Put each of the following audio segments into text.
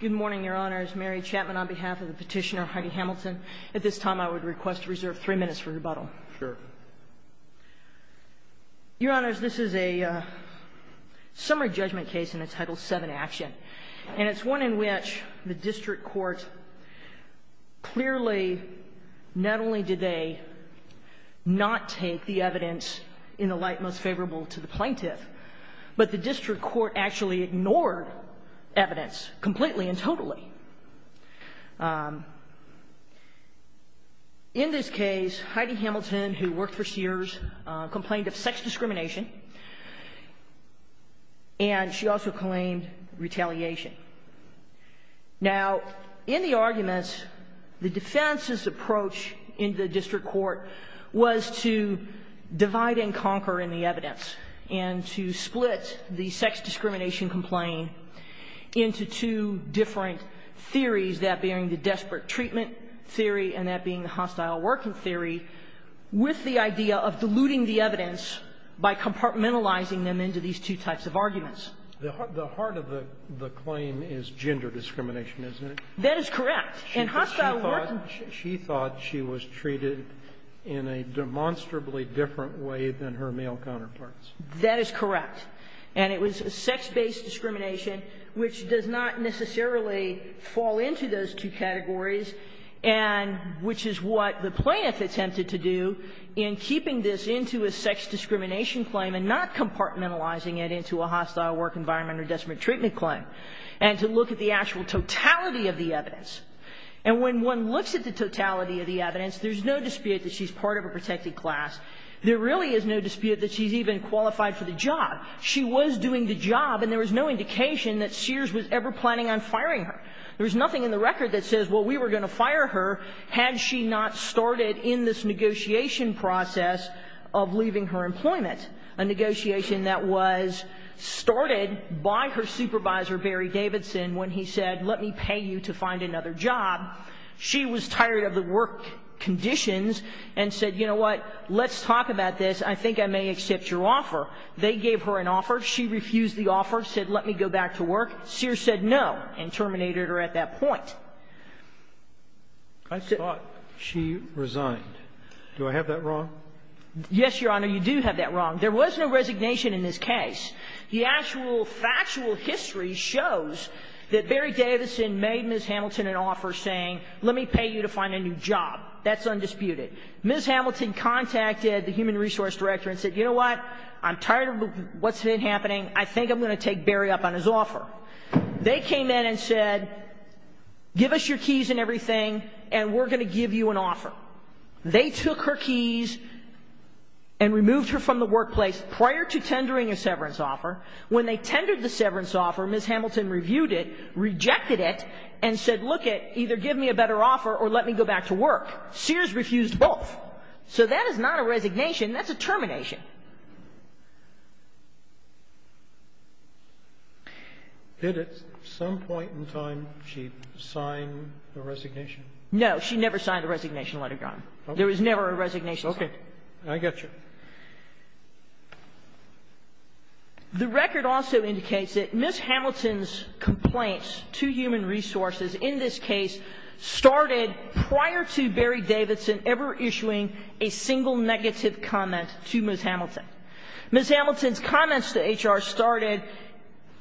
Good morning, Your Honors. Mary Chapman on behalf of the petitioner Heidi Hamilton. At this time, I would request to reserve three minutes for rebuttal. Sure. Your Honors, this is a summary judgment case in a Title VII action. And it's one in which the district court clearly, not only did they not take the evidence in the light most favorable to the plaintiff, but the district court actually ignored evidence completely and totally. In this case, Heidi Hamilton, who worked for Sears, complained of sex discrimination. And she also claimed retaliation. Now, in the arguments, the defense's approach in the district court was to divide and conquer in the evidence and to split the sex discrimination complaint into two different theories, that being the desperate treatment theory and that being the hostile working theory, with the idea of diluting the evidence by compartmentalizing them into these two types of arguments. The heart of the claim is gender discrimination, isn't it? That is correct. And hostile working ---- She thought she was treated in a demonstrably different way than her male counterparts. That is correct. And it was sex-based discrimination, which does not necessarily fall into those two categories, and which is what the plaintiff attempted to do in keeping this into a sex discrimination claim and not compartmentalizing it into a hostile work environment or desperate treatment claim, and to look at the actual totality of the evidence. And when one looks at the totality of the evidence, there's no dispute that she's part of a protected class. There really is no dispute that she's even qualified for the job. She was doing the job, and there was no indication that Sears was ever planning on firing her. There was nothing in the record that says, well, we were going to fire her had she not started in this negotiation process of leaving her employment, a negotiation that was started by her supervisor, Barry Davidson, when he said, let me pay you to find another job. She was tired of the work conditions and said, you know what, let's talk about this. I think I may accept your offer. They gave her an offer. She refused the offer, said, let me go back to work. Sears said no and terminated her at that point. I thought she resigned. Do I have that wrong? Yes, Your Honor, you do have that wrong. There was no resignation in this case. The actual factual history shows that Barry Davidson made Ms. Hamilton an offer saying, let me pay you to find a new job. That's undisputed. Ms. Hamilton contacted the human resource director and said, you know what, I'm tired of what's been happening. I think I'm going to take Barry up on his offer. They came in and said, give us your keys and everything, and we're going to give you an offer. They took her keys and removed her from the workplace prior to tendering a severance offer. When they tendered the severance offer, Ms. Hamilton reviewed it, rejected it, and said, look it, either give me a better offer or let me go back to work. Sears refused both. So that is not a resignation. That's a termination. Did at some point in time she sign the resignation? No, she never signed the resignation letter, Your Honor. There was never a resignation. Okay. I get you. The record also indicates that Ms. Hamilton's complaints to human resources in this case started prior to Barry Davidson ever issuing a single negative comment to Ms. Hamilton. Ms. Hamilton's comments to HR started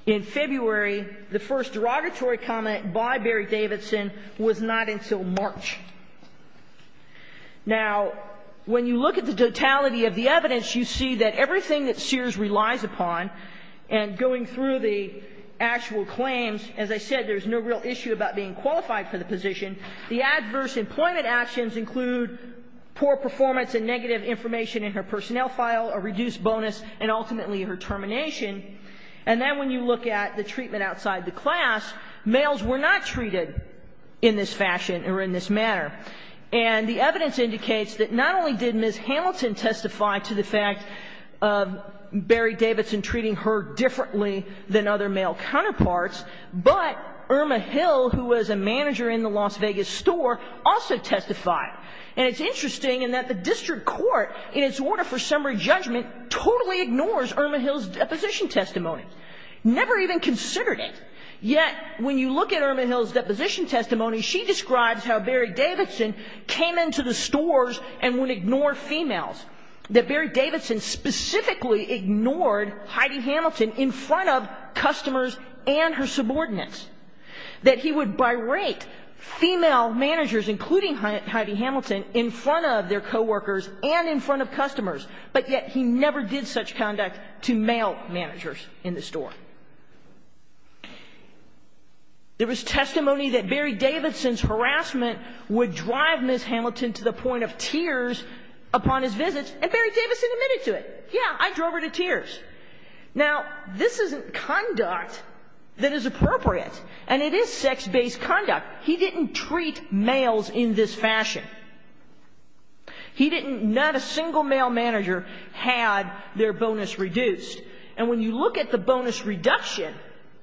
in February. The first derogatory comment by Barry Davidson was not until March. Now, when you look at the totality of the evidence, you see that everything that Sears relies upon, and going through the actual claims, as I said, there's no real issue about being qualified for the position. The adverse employment actions include poor performance and negative information in her personnel file, a reduced bonus, and ultimately her termination. And then when you look at the treatment outside the class, males were not treated in this fashion or in this manner. And the evidence indicates that not only did Ms. Hamilton testify to the fact of Barry Davidson treating her differently than other male counterparts, but Irma Hill, who was a manager in the Las Vegas store, also testified. And it's interesting in that the district court, in its order for summary judgment, totally ignores Irma Hill's deposition testimony, never even considered it. Yet, when you look at Irma Hill's deposition testimony, she describes how Barry Davidson came into the stores and would ignore females, that Barry Davidson specifically ignored Heidi Hamilton in front of customers and her subordinates, that he would birate female managers, including Heidi Hamilton, in front of their coworkers and in front of customers, but yet he never did such conduct to male managers in the store. There was testimony that Barry Davidson's harassment would drive Ms. Hamilton to the point of tears upon his visits, and Barry Davidson admitted to it. Yeah, I drove her to tears. Now, this isn't conduct that is appropriate, and it is sex-based conduct. He didn't treat males in this fashion. He didn't, not a single male manager had their bonus reduced. And when you look at the bonus reduction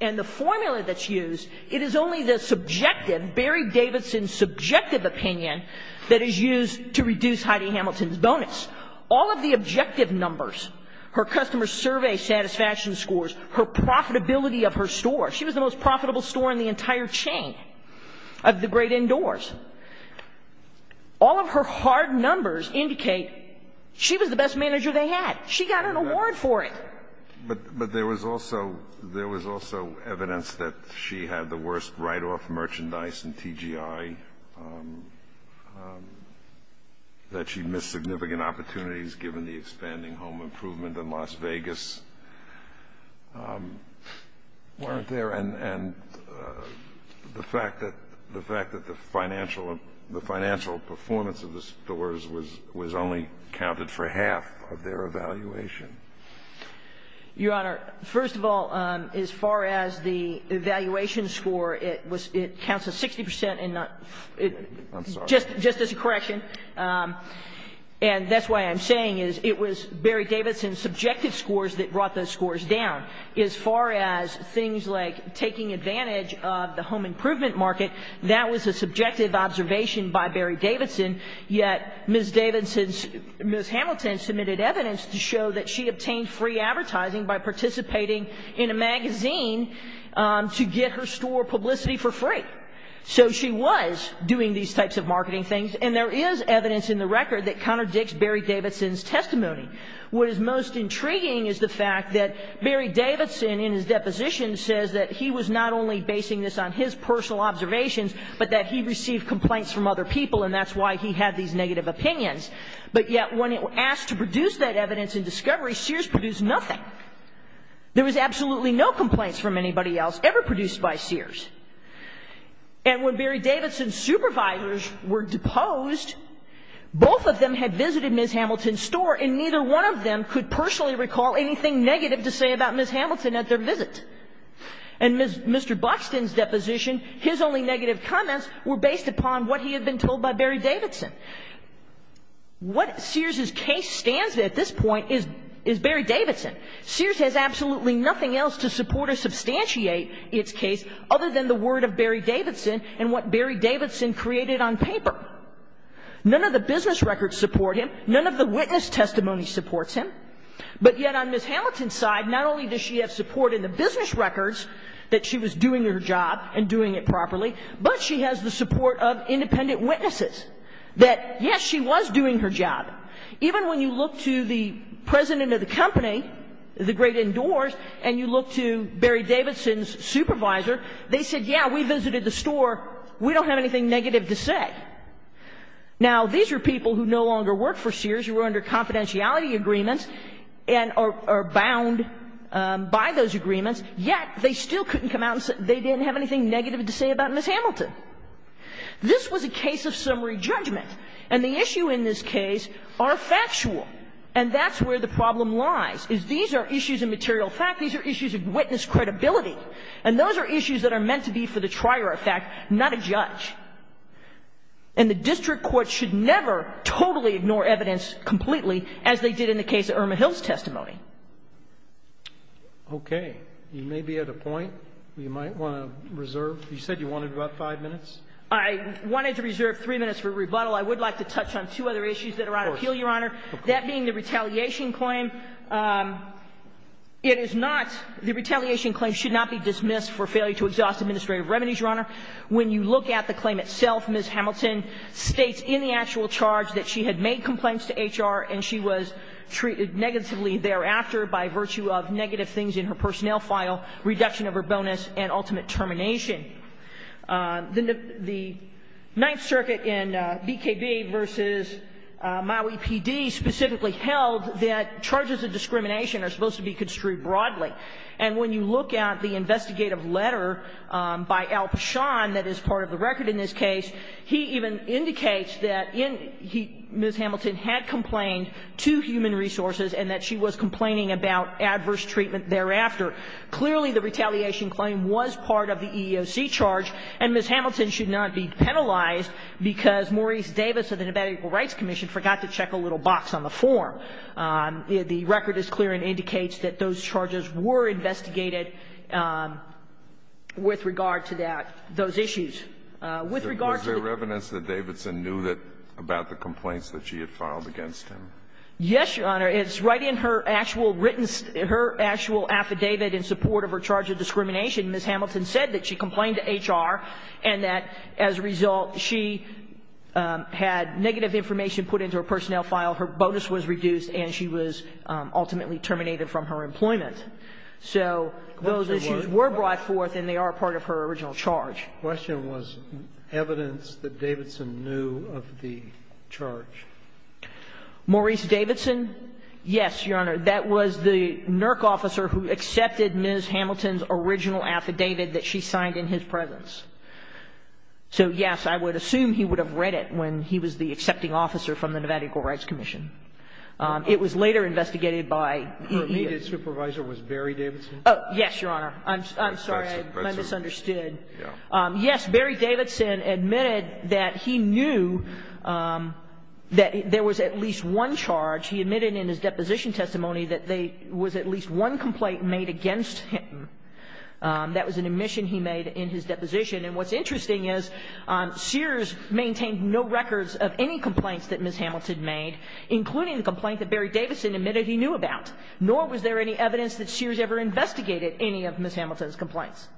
and the formula that's used, it is only the subjective, Barry Davidson's subjective opinion that is used to reduce Heidi Hamilton's bonus. All of the objective numbers, her customer survey satisfaction scores, her profitability of her store, she was the most profitable store in the entire chain of the great indoors. All of her hard numbers indicate she was the best manager they had. She got an award for it. But there was also evidence that she had the worst write-off merchandise in TGI, that she missed significant opportunities given the expanding home improvement in Las Vegas, weren't there, and the fact that the financial performance of the stores was only counted for half of their evaluation. Your Honor, first of all, as far as the evaluation score, it counts as 60 percent and not — I'm sorry. Just as a correction. And that's why I'm saying it was Barry Davidson's subjective scores that brought those scores down. As far as things like taking advantage of the home improvement market, that was a subjective observation by Barry Davidson, yet Ms. Davidson's — Ms. Hamilton submitted evidence to show that she obtained free advertising by participating in a magazine to get her store publicity for free. So she was doing these types of marketing things, and there is evidence in the record that contradicts Barry Davidson's testimony. What is most intriguing is the fact that Barry Davidson, in his deposition, says that he was not only basing this on his personal observations, but that he received complaints from other people, and that's why he had these negative opinions. But yet when asked to produce that evidence in discovery, Sears produced nothing. There was absolutely no complaints from anybody else ever produced by Sears. And when Barry Davidson's supervisors were deposed, both of them had visited Ms. Hamilton's store, and neither one of them could personally recall anything negative to say about Ms. Hamilton at their visit. And Mr. Buxton's deposition, his only negative comments were based upon what he had been told by Barry Davidson. What Sears's case stands at this point is Barry Davidson. Sears has absolutely nothing else to support or substantiate its case other than the word of Barry Davidson and what Barry Davidson created on paper. None of the business records support him. None of the witness testimony supports him. But yet on Ms. Hamilton's side, not only does she have support in the business records that she was doing her job and doing it properly, but she has the support of independent witnesses that, yes, she was doing her job. Even when you look to the president of the company, the great indoors, and you look to Barry Davidson's supervisor, they said, yeah, we visited the store, we don't have anything negative to say. Now, these are people who no longer work for Sears, who are under confidentiality agreements and are bound by those agreements, yet they still couldn't come out and say they didn't have anything negative to say about Ms. Hamilton. This was a case of summary judgment. And the issue in this case are factual, and that's where the problem lies, is these are issues of material fact, these are issues of witness credibility, and those are issues that are meant to be for the trier of fact, not a judge. And the district court should never totally ignore evidence completely, as they did in the case of Irma Hill's testimony. Okay. You may be at a point where you might want to reserve. You said you wanted about five minutes. I wanted to reserve three minutes for rebuttal. I would like to touch on two other issues that are on appeal, Your Honor, that being the retaliation claim. It is not the retaliation claim should not be dismissed for failure to exhaust administrative remedies, Your Honor. When you look at the claim itself, Ms. Hamilton states in the actual charge that she had made complaints to HR and she was treated negatively thereafter by virtue of negative things in her personnel file, reduction of her bonus, and ultimate termination. The Ninth Circuit in BKB versus Maui PD specifically held that charges of discrimination are supposed to be construed broadly. And when you look at the investigative letter by Al-Pashan that is part of the record in this case, he even indicates that Ms. Hamilton had complained to Human Resources and that she was complaining about adverse treatment thereafter. Clearly, the retaliation claim was part of the EEOC charge, and Ms. Hamilton should not be penalized because Maurice Davis of the Nevada Equal Rights Commission forgot to check a little box on the form. The record is clear and indicates that those charges were investigated with regard to that, those issues. With regard to the ---- Was there evidence that Davidson knew about the complaints that she had filed against him? Yes, Your Honor. It's right in her actual written ---- her actual affidavit in support of her charge of discrimination. Ms. Hamilton said that she complained to HR and that, as a result, she had negative information put into her personnel file, her bonus was reduced, and she was ultimately terminated from her employment. So those issues were brought forth and they are part of her original charge. The question was evidence that Davidson knew of the charge. Maurice Davidson? Yes, Your Honor. That was the NERC officer who accepted Ms. Hamilton's original affidavit that she signed in his presence. So, yes, I would assume he would have read it when he was the accepting officer from the Nevada Equal Rights Commission. It was later investigated by EEOC. Her immediate supervisor was Barry Davidson? Oh, yes, Your Honor. I'm sorry, I misunderstood. Yes, Barry Davidson admitted that he knew that there was at least one charge. He admitted in his deposition testimony that there was at least one complaint made against him. That was an admission he made in his deposition. And what's interesting is Sears maintained no records of any complaints that Ms. Hamilton made, including the complaint that Barry Davidson admitted he knew about. Nor was there any evidence that Sears ever investigated any of Ms. Hamilton's complaints.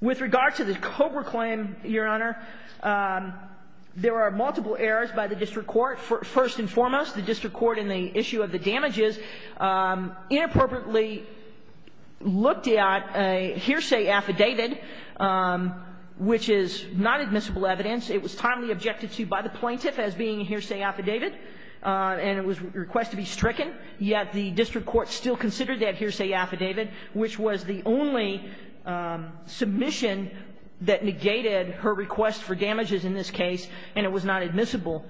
With regard to the Cobra claim, Your Honor, there are multiple errors by the district court. First and foremost, the district court in the issue of the damages inappropriately looked at a hearsay affidavit, which is not admissible evidence. It was timely objected to by the plaintiff as being a hearsay affidavit, and it was requested to be stricken. Yet the district court still considered the hearsay affidavit, which was the only submission that negated her request for damages in this case, and it was not admissible.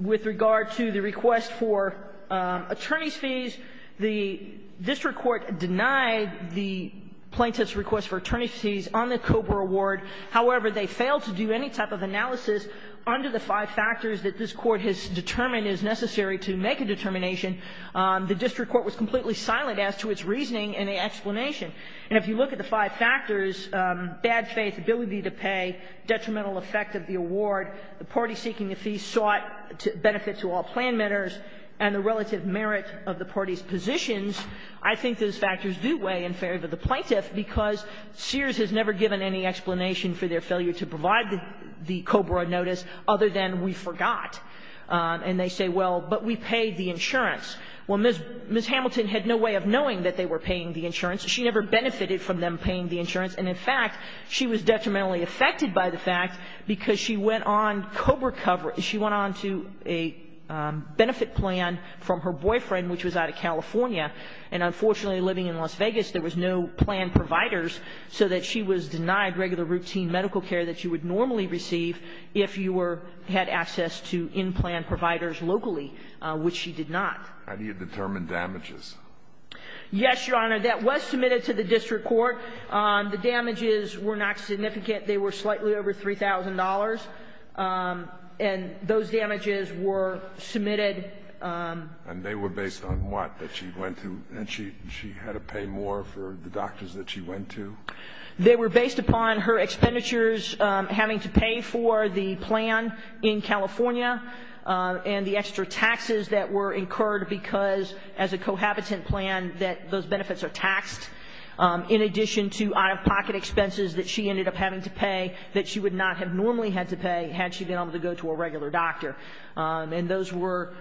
With regard to the request for attorney's fees, the district court denied the plaintiff's request for attorney's fees on the Cobra award. However, they failed to do any type of analysis under the five factors that this Court has determined is necessary to make a determination. The district court was completely silent as to its reasoning and the explanation. And if you look at the five factors, bad faith, ability to pay, detrimental effect of the award, the party seeking a fee sought to benefit to all planmetters and the relative merit of the party's positions, I think those factors do weigh in favor of the plaintiff because Sears has never given any explanation for their failure to provide the Cobra notice other than we forgot. And they say, well, but we paid the insurance. Well, Ms. Hamilton had no way of knowing that they were paying the insurance. She never benefited from them paying the insurance. And, in fact, she was detrimentally affected by the fact because she went on Cobra coverage. She went on to a benefit plan from her boyfriend, which was out of California. And, unfortunately, living in Las Vegas, there was no planned providers, so that she was denied regular routine medical care that she would normally receive if you had access to in-plan providers locally, which she did not. How do you determine damages? Yes, Your Honor. That was submitted to the district court. The damages were not significant. They were slightly over $3,000. And those damages were submitted. And they were based on what that she went to? And she had to pay more for the doctors that she went to? They were based upon her expenditures having to pay for the plan in California and the extra taxes that were incurred because, as a cohabitant plan, that those benefits are taxed, in addition to out-of-pocket expenses that she ended up having to pay that she would not have normally had to pay had she been able to go to a regular doctor. And those were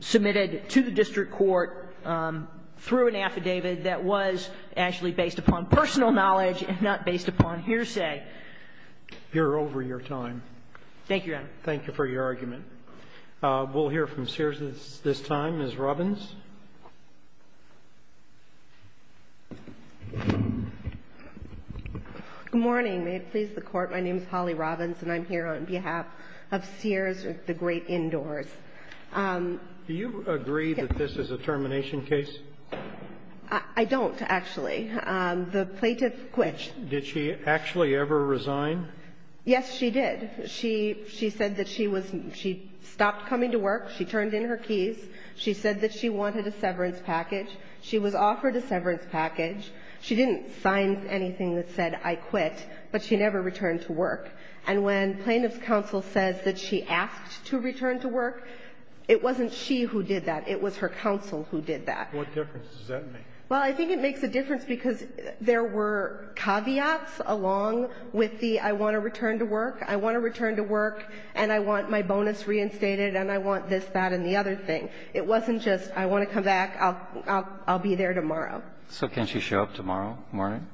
submitted to the district court through an affidavit that was actually based upon personal knowledge and not based upon hearsay. You're over your time. Thank you, Your Honor. Thank you for your argument. We'll hear from Sears this time. Good morning. May it please the Court. My name is Holly Robbins, and I'm here on behalf of Sears, the great indoors. Do you agree that this is a termination case? I don't, actually. The plaintiff quit. Did she actually ever resign? Yes, she did. She said that she was – she stopped coming to work. She turned in her keys. She said that she wanted a severance package. She was offered a severance package. She didn't sign anything that said I quit, but she never returned to work. And when plaintiff's counsel says that she asked to return to work, it wasn't she who did that. It was her counsel who did that. What difference does that make? Well, I think it makes a difference because there were caveats along with the I want to return to work, I want to return to work, and I want my bonus reinstated, and I want this, that, and the other thing. It wasn't just I want to come back, I'll be there tomorrow. So can she show up tomorrow morning?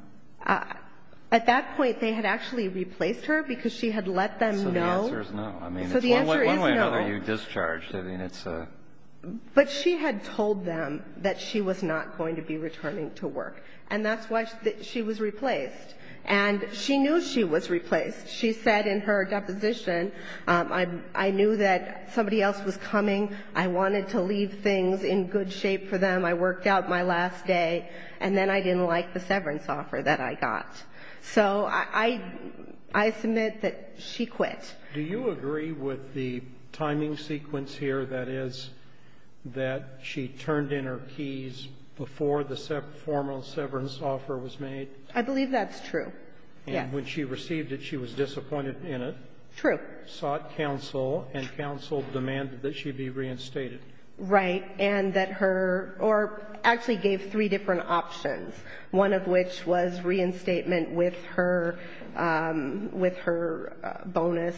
At that point, they had actually replaced her because she had let them know. So the answer is no. So the answer is no. One way or another, you discharged her. But she had told them that she was not going to be returning to work, and that's why she was replaced. And she knew she was replaced. She said in her deposition, I knew that somebody else was coming. I wanted to leave things in good shape for them. I worked out my last day, and then I didn't like the severance offer that I got. So I submit that she quit. Do you agree with the timing sequence here, that is, that she turned in her keys before the formal severance offer was made? I believe that's true, yes. And when she received it, she was disappointed in it. True. Sought counsel, and counsel demanded that she be reinstated. Right. And that her or actually gave three different options, one of which was reinstatement with her, with her bonus.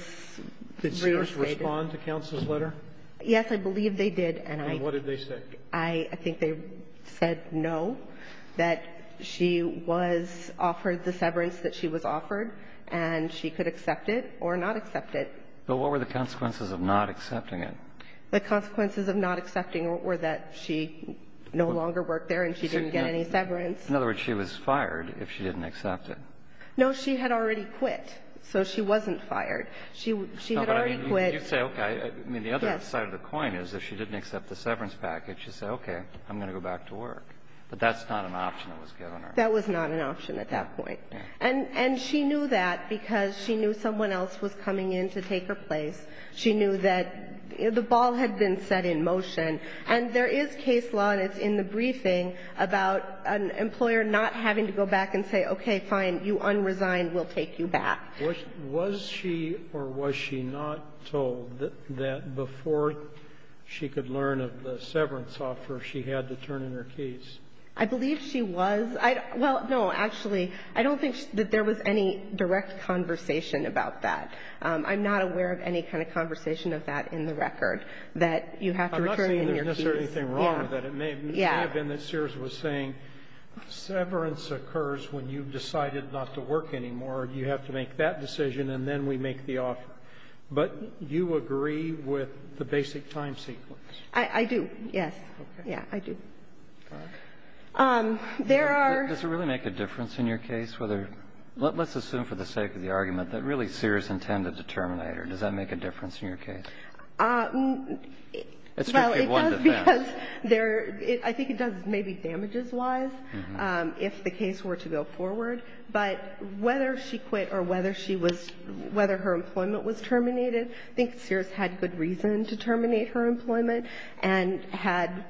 Did she respond to counsel's letter? Yes, I believe they did. And what did they say? I think they said no, that she was offered the severance that she was offered, and she could accept it or not accept it. But what were the consequences of not accepting it? The consequences of not accepting it were that she no longer worked there and she didn't get any severance. In other words, she was fired if she didn't accept it. No, she had already quit. So she wasn't fired. She had already quit. No, but I mean, you say, okay. I mean, the other side of the coin is if she didn't accept the severance package, you say, okay, I'm going to go back to work. But that's not an option that was given her. That was not an option at that point. And she knew that because she knew someone else was coming in to take her place. She knew that the ball had been set in motion. And there is case law, and it's in the briefing, about an employer not having to go back and say, okay, fine, you unresigned, we'll take you back. Was she or was she not told that before she could learn of the severance offer, she had to turn in her case? I believe she was. Well, no, actually, I don't think that there was any direct conversation about that. I'm not aware of any kind of conversation of that in the record, that you have to return in your case. I'm not saying there's necessarily anything wrong with that. Yeah. It may have been that Sears was saying severance occurs when you've decided not to work anymore. You have to make that decision, and then we make the offer. But you agree with the basic time sequence. I do, yes. Okay. Yeah, I do. All right. There are ---- Does it really make a difference in your case whether ---- let's assume for the sake of the argument that really Sears intended to terminate her. Does that make a difference in your case? Well, it does because there ---- I think it does maybe damages-wise if the case were to go forward. But whether she quit or whether she was ---- whether her employment was terminated, I think Sears had good reason to terminate her employment and had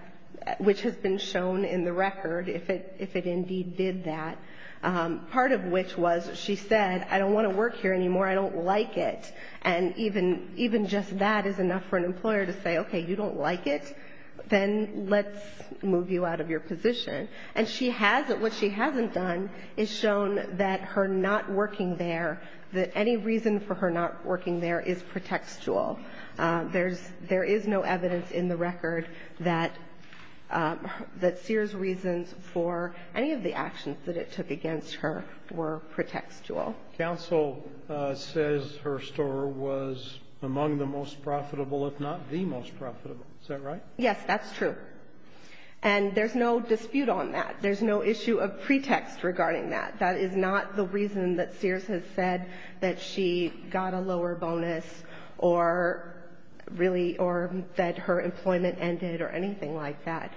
---- which has been shown in the record, if it indeed did that. Part of which was she said, I don't want to work here anymore. I don't like it. And even just that is enough for an employer to say, okay, you don't like it? Then let's move you out of your position. And she has ---- what she hasn't done is shown that her not working there, that any reason for her not working there is pretextual. There is no evidence in the record that Sears' reasons for any of the actions that it took against her were pretextual. Counsel says her store was among the most profitable, if not the most profitable. Is that right? Yes, that's true. And there's no dispute on that. There's no issue of pretext regarding that. That is not the reason that Sears has said that she got a lower bonus or really or that her employment ended or anything like that.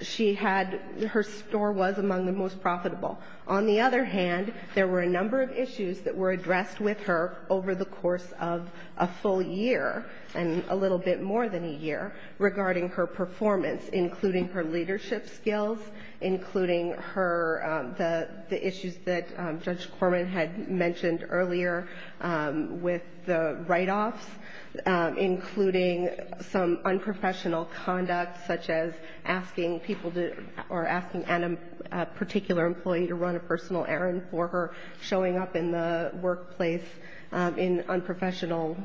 She had ---- her store was among the most profitable. On the other hand, there were a number of issues that were addressed with her over the course of a full year and a little bit more than a year regarding her performance, including her leadership skills, including her ---- the issues that Judge Corman had mentioned earlier with the write-offs, including some unprofessional conduct, such as asking people to or asking a particular employee to run a personal errand for her, showing up in the workplace in unprofessional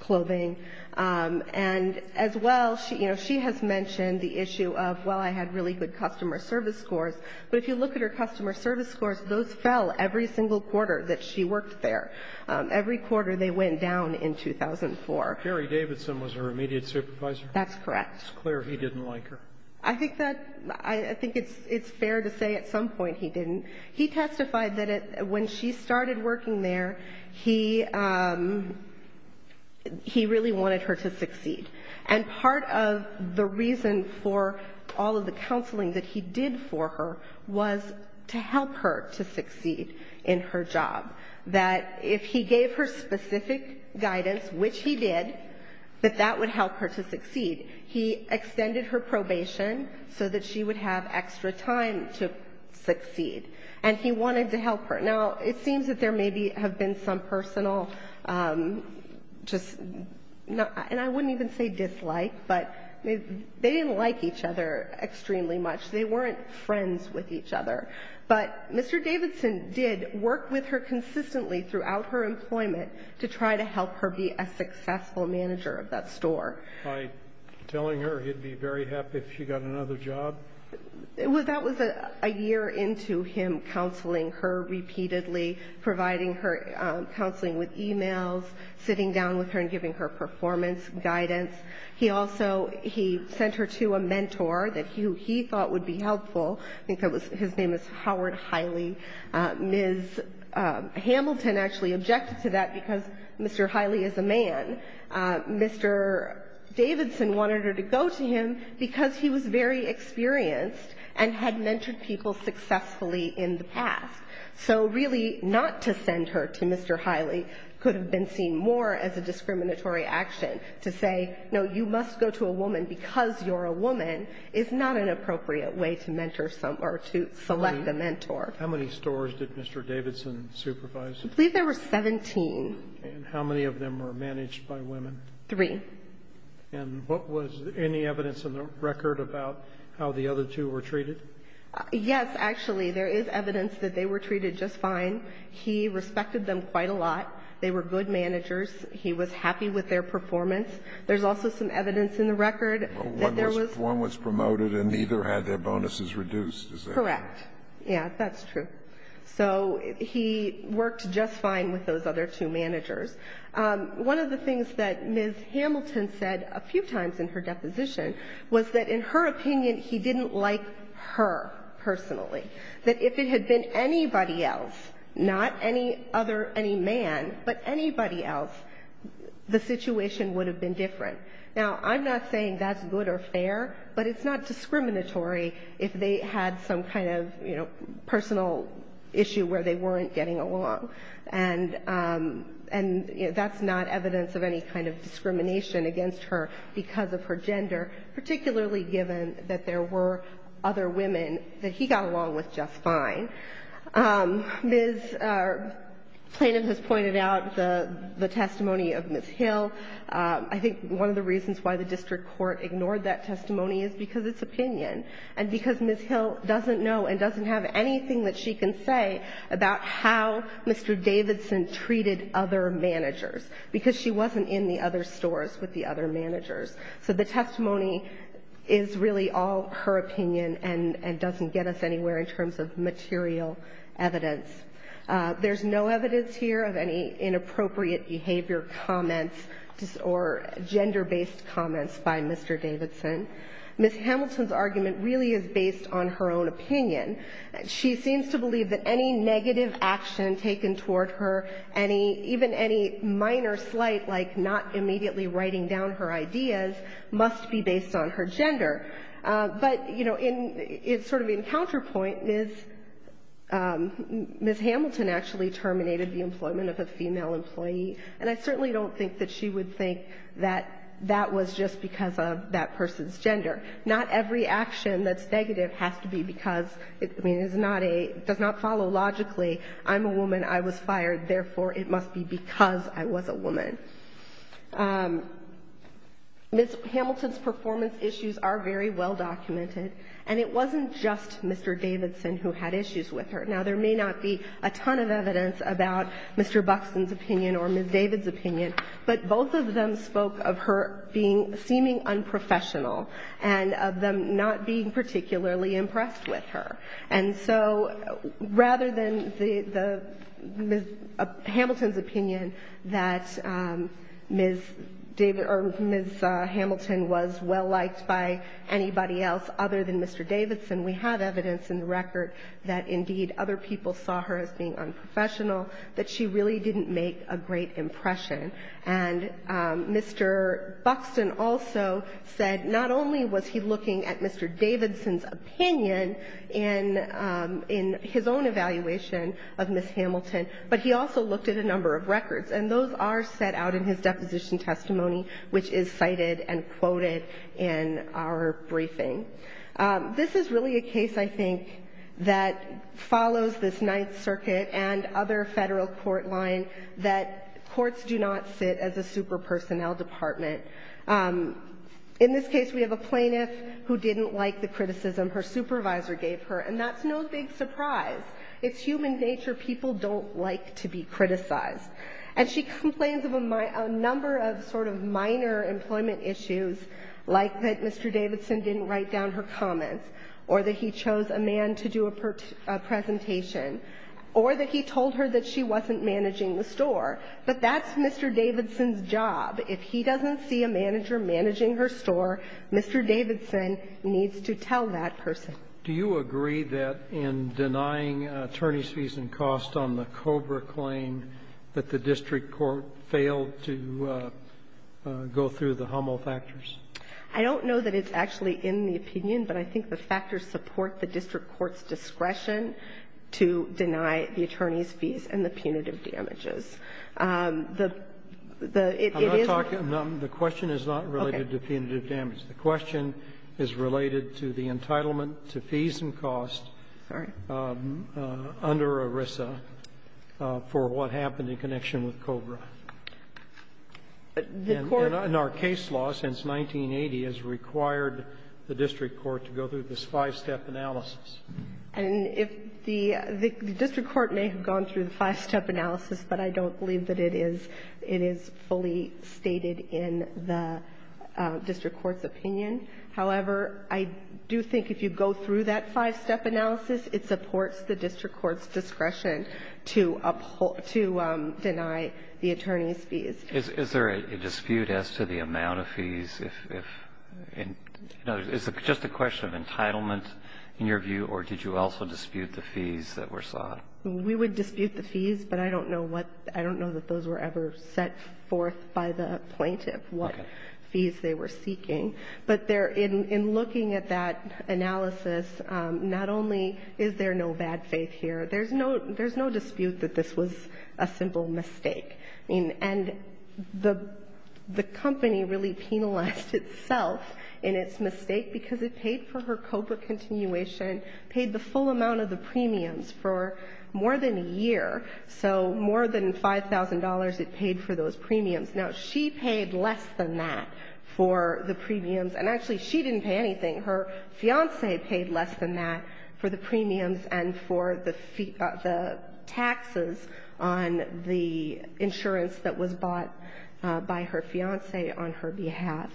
clothing. And as well, you know, she has mentioned the issue of, well, I had really good customer service scores. But if you look at her customer service scores, those fell every single quarter that she worked there. Every quarter they went down in 2004. Jerry Davidson was her immediate supervisor? That's correct. It's clear he didn't like her. I think that ---- I think it's fair to say at some point he didn't. He testified that when she started working there, he really wanted her to succeed. And part of the reason for all of the counseling that he did for her was to help her to succeed in her job. That if he gave her specific guidance, which he did, that that would help her to succeed. He extended her probation so that she would have extra time to succeed. And he wanted to help her. Now, it seems that there maybe have been some personal just ---- and I wouldn't even say dislike, but they didn't like each other extremely much. They weren't friends with each other. But Mr. Davidson did work with her consistently throughout her employment to try to help her be a successful manager of that store. By telling her he'd be very happy if she got another job? Well, that was a year into him counseling her repeatedly, providing her counseling with e-mails, sitting down with her and giving her performance guidance. He also ---- he sent her to a mentor that he thought would be helpful. I think his name is Howard Hiley. Ms. Hamilton actually objected to that because Mr. Hiley is a man. Mr. Davidson wanted her to go to him because he was very experienced and had mentored people successfully in the past. So really not to send her to Mr. Hiley could have been seen more as a discriminatory action to say, no, you must go to a woman because you're a woman is not an appropriate way to mentor someone or to select a mentor. How many stores did Mr. Davidson supervise? I believe there were 17. And how many of them were managed by women? Three. And what was any evidence in the record about how the other two were treated? Yes, actually. There is evidence that they were treated just fine. He respected them quite a lot. They were good managers. He was happy with their performance. There's also some evidence in the record that there was ---- Correct. Yes, that's true. So he worked just fine with those other two managers. One of the things that Ms. Hamilton said a few times in her deposition was that, in her opinion, he didn't like her personally, that if it had been anybody else, not any other, any man, but anybody else, the situation would have been different. Now, I'm not saying that's good or fair, but it's not discriminatory if they had some kind of, you know, personal issue where they weren't getting along. And that's not evidence of any kind of discrimination against her because of her gender, particularly given that there were other women that he got along with just fine. Ms. Plaintiff has pointed out the testimony of Ms. Hill. I think one of the reasons why the district court ignored that testimony is because it's opinion and because Ms. Hill doesn't know and doesn't have anything that she can say about how Mr. Davidson treated other managers because she wasn't in the other stores with the other managers. So the testimony is really all her opinion and doesn't get us anywhere in terms of material evidence. There's no evidence here of any inappropriate behavior comments or gender-based comments by Mr. Davidson. Ms. Hamilton's argument really is based on her own opinion. She seems to believe that any negative action taken toward her, any, even any minor slight, like not immediately writing down her ideas, must be based on her gender. But, you know, in sort of in counterpoint, Ms. Hamilton actually terminated the employment of a female employee, and I certainly don't think that she would think that that was just because of that person's gender. Not every action that's negative has to be because, I mean, it's not a, does not follow logically, I'm a woman, I was fired, therefore it must be because I was a woman. Ms. Hamilton's performance issues are very well documented, and it wasn't just Mr. Davidson who had issues with her. Now, there may not be a ton of evidence about Mr. Buxton's opinion or Ms. David's opinion, but both of them spoke of her being, seeming unprofessional, and of them not being particularly impressed with her. And so rather than the, Ms. Hamilton's opinion that Ms. David, or Ms. Hamilton was well-liked by anybody else other than Mr. Davidson, we have evidence in the record that indeed other people saw her as being unprofessional, that she really didn't make a great impression. And Mr. Buxton also said not only was he looking at Mr. Davidson's opinion and his own evaluation of Ms. Hamilton, but he also looked at a number of records. And those are set out in his deposition testimony, which is cited and quoted in our briefing. This is really a case, I think, that follows this Ninth Circuit and other Federal court line that courts do not sit as a super-personnel department. In this case, we have a plaintiff who didn't like the criticism her supervisor gave her, and that's no big surprise. It's human nature. People don't like to be criticized. And she complains of a number of sort of minor employment issues, like that Mr. Davidson didn't write down her comments, or that he chose a man to do a presentation, or that he told her that she wasn't managing the store. But that's Mr. Davidson's job. If he doesn't see a manager managing her store, Mr. Davidson needs to tell that person. Do you agree that in denying attorney's fees and costs on the Cobra claim that the district court failed to go through the HUML factors? I don't know that it's actually in the opinion, but I think the factors support the district court's discretion to deny the attorney's fees and the punitive damages. The question is not related to punitive damage. The question is related to the entitlement to fees and costs under ERISA for what happened in connection with Cobra. And our case law since 1980 has required the district court to go through this five-step analysis. And if the district court may have gone through the five-step analysis, but I don't believe that it is fully stated in the district court's opinion. However, I do think if you go through that five-step analysis, it supports the district court's discretion to deny the attorney's fees. Is there a dispute as to the amount of fees? Is it just a question of entitlement in your view, or did you also dispute the fees that were sought? We would dispute the fees, but I don't know what – I don't know that those were ever set forth by the plaintiff what fees they were seeking. But in looking at that analysis, not only is there no bad faith here, there's no dispute that this was a simple mistake. And the company really penalized itself in its mistake because it paid for her Cobra continuation, paid the full amount of the premiums for more than a year. So more than $5,000 it paid for those premiums. Now, she paid less than that for the premiums. And actually, she didn't pay anything. Her fiancé paid less than that for the premiums and for the taxes on the insurance that was bought by her fiancé on her behalf.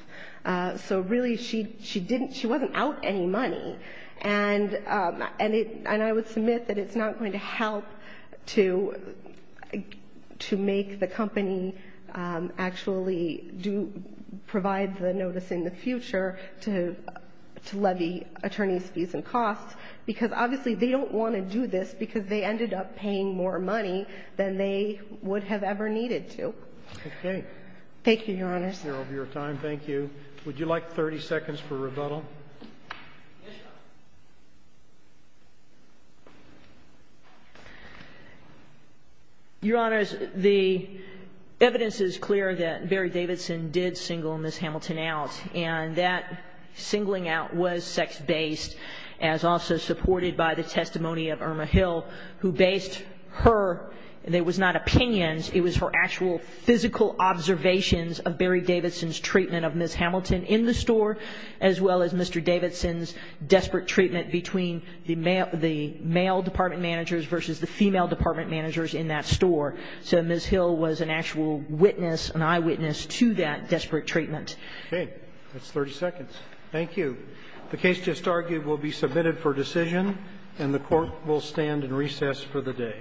So really she didn't – she wasn't out any money. And I would submit that it's not going to help to make the company actually provide the notice in the future to levy attorneys' fees and costs, because obviously they don't want to do this because they ended up paying more money than they would have ever needed to. Okay. Thank you, Your Honor. Thank you. Would you like 30 seconds for rebuttal? Yes, Your Honor. Your Honors, the evidence is clear that Barry Davidson did single Miss Hamilton out. And that singling out was sex-based, as also supported by the testimony of Irma Hill, who based her – it was not opinions, it was her actual physical observations of Barry Davidson's treatment of Miss Hamilton in the store, as well as Mr. Davidson's desperate treatment between the male department managers versus the female department managers in that store. So Miss Hill was an actual witness, an eyewitness, to that desperate treatment. Okay. That's 30 seconds. Thank you. The case just argued will be submitted for decision, and the Court will stand in recess for the day.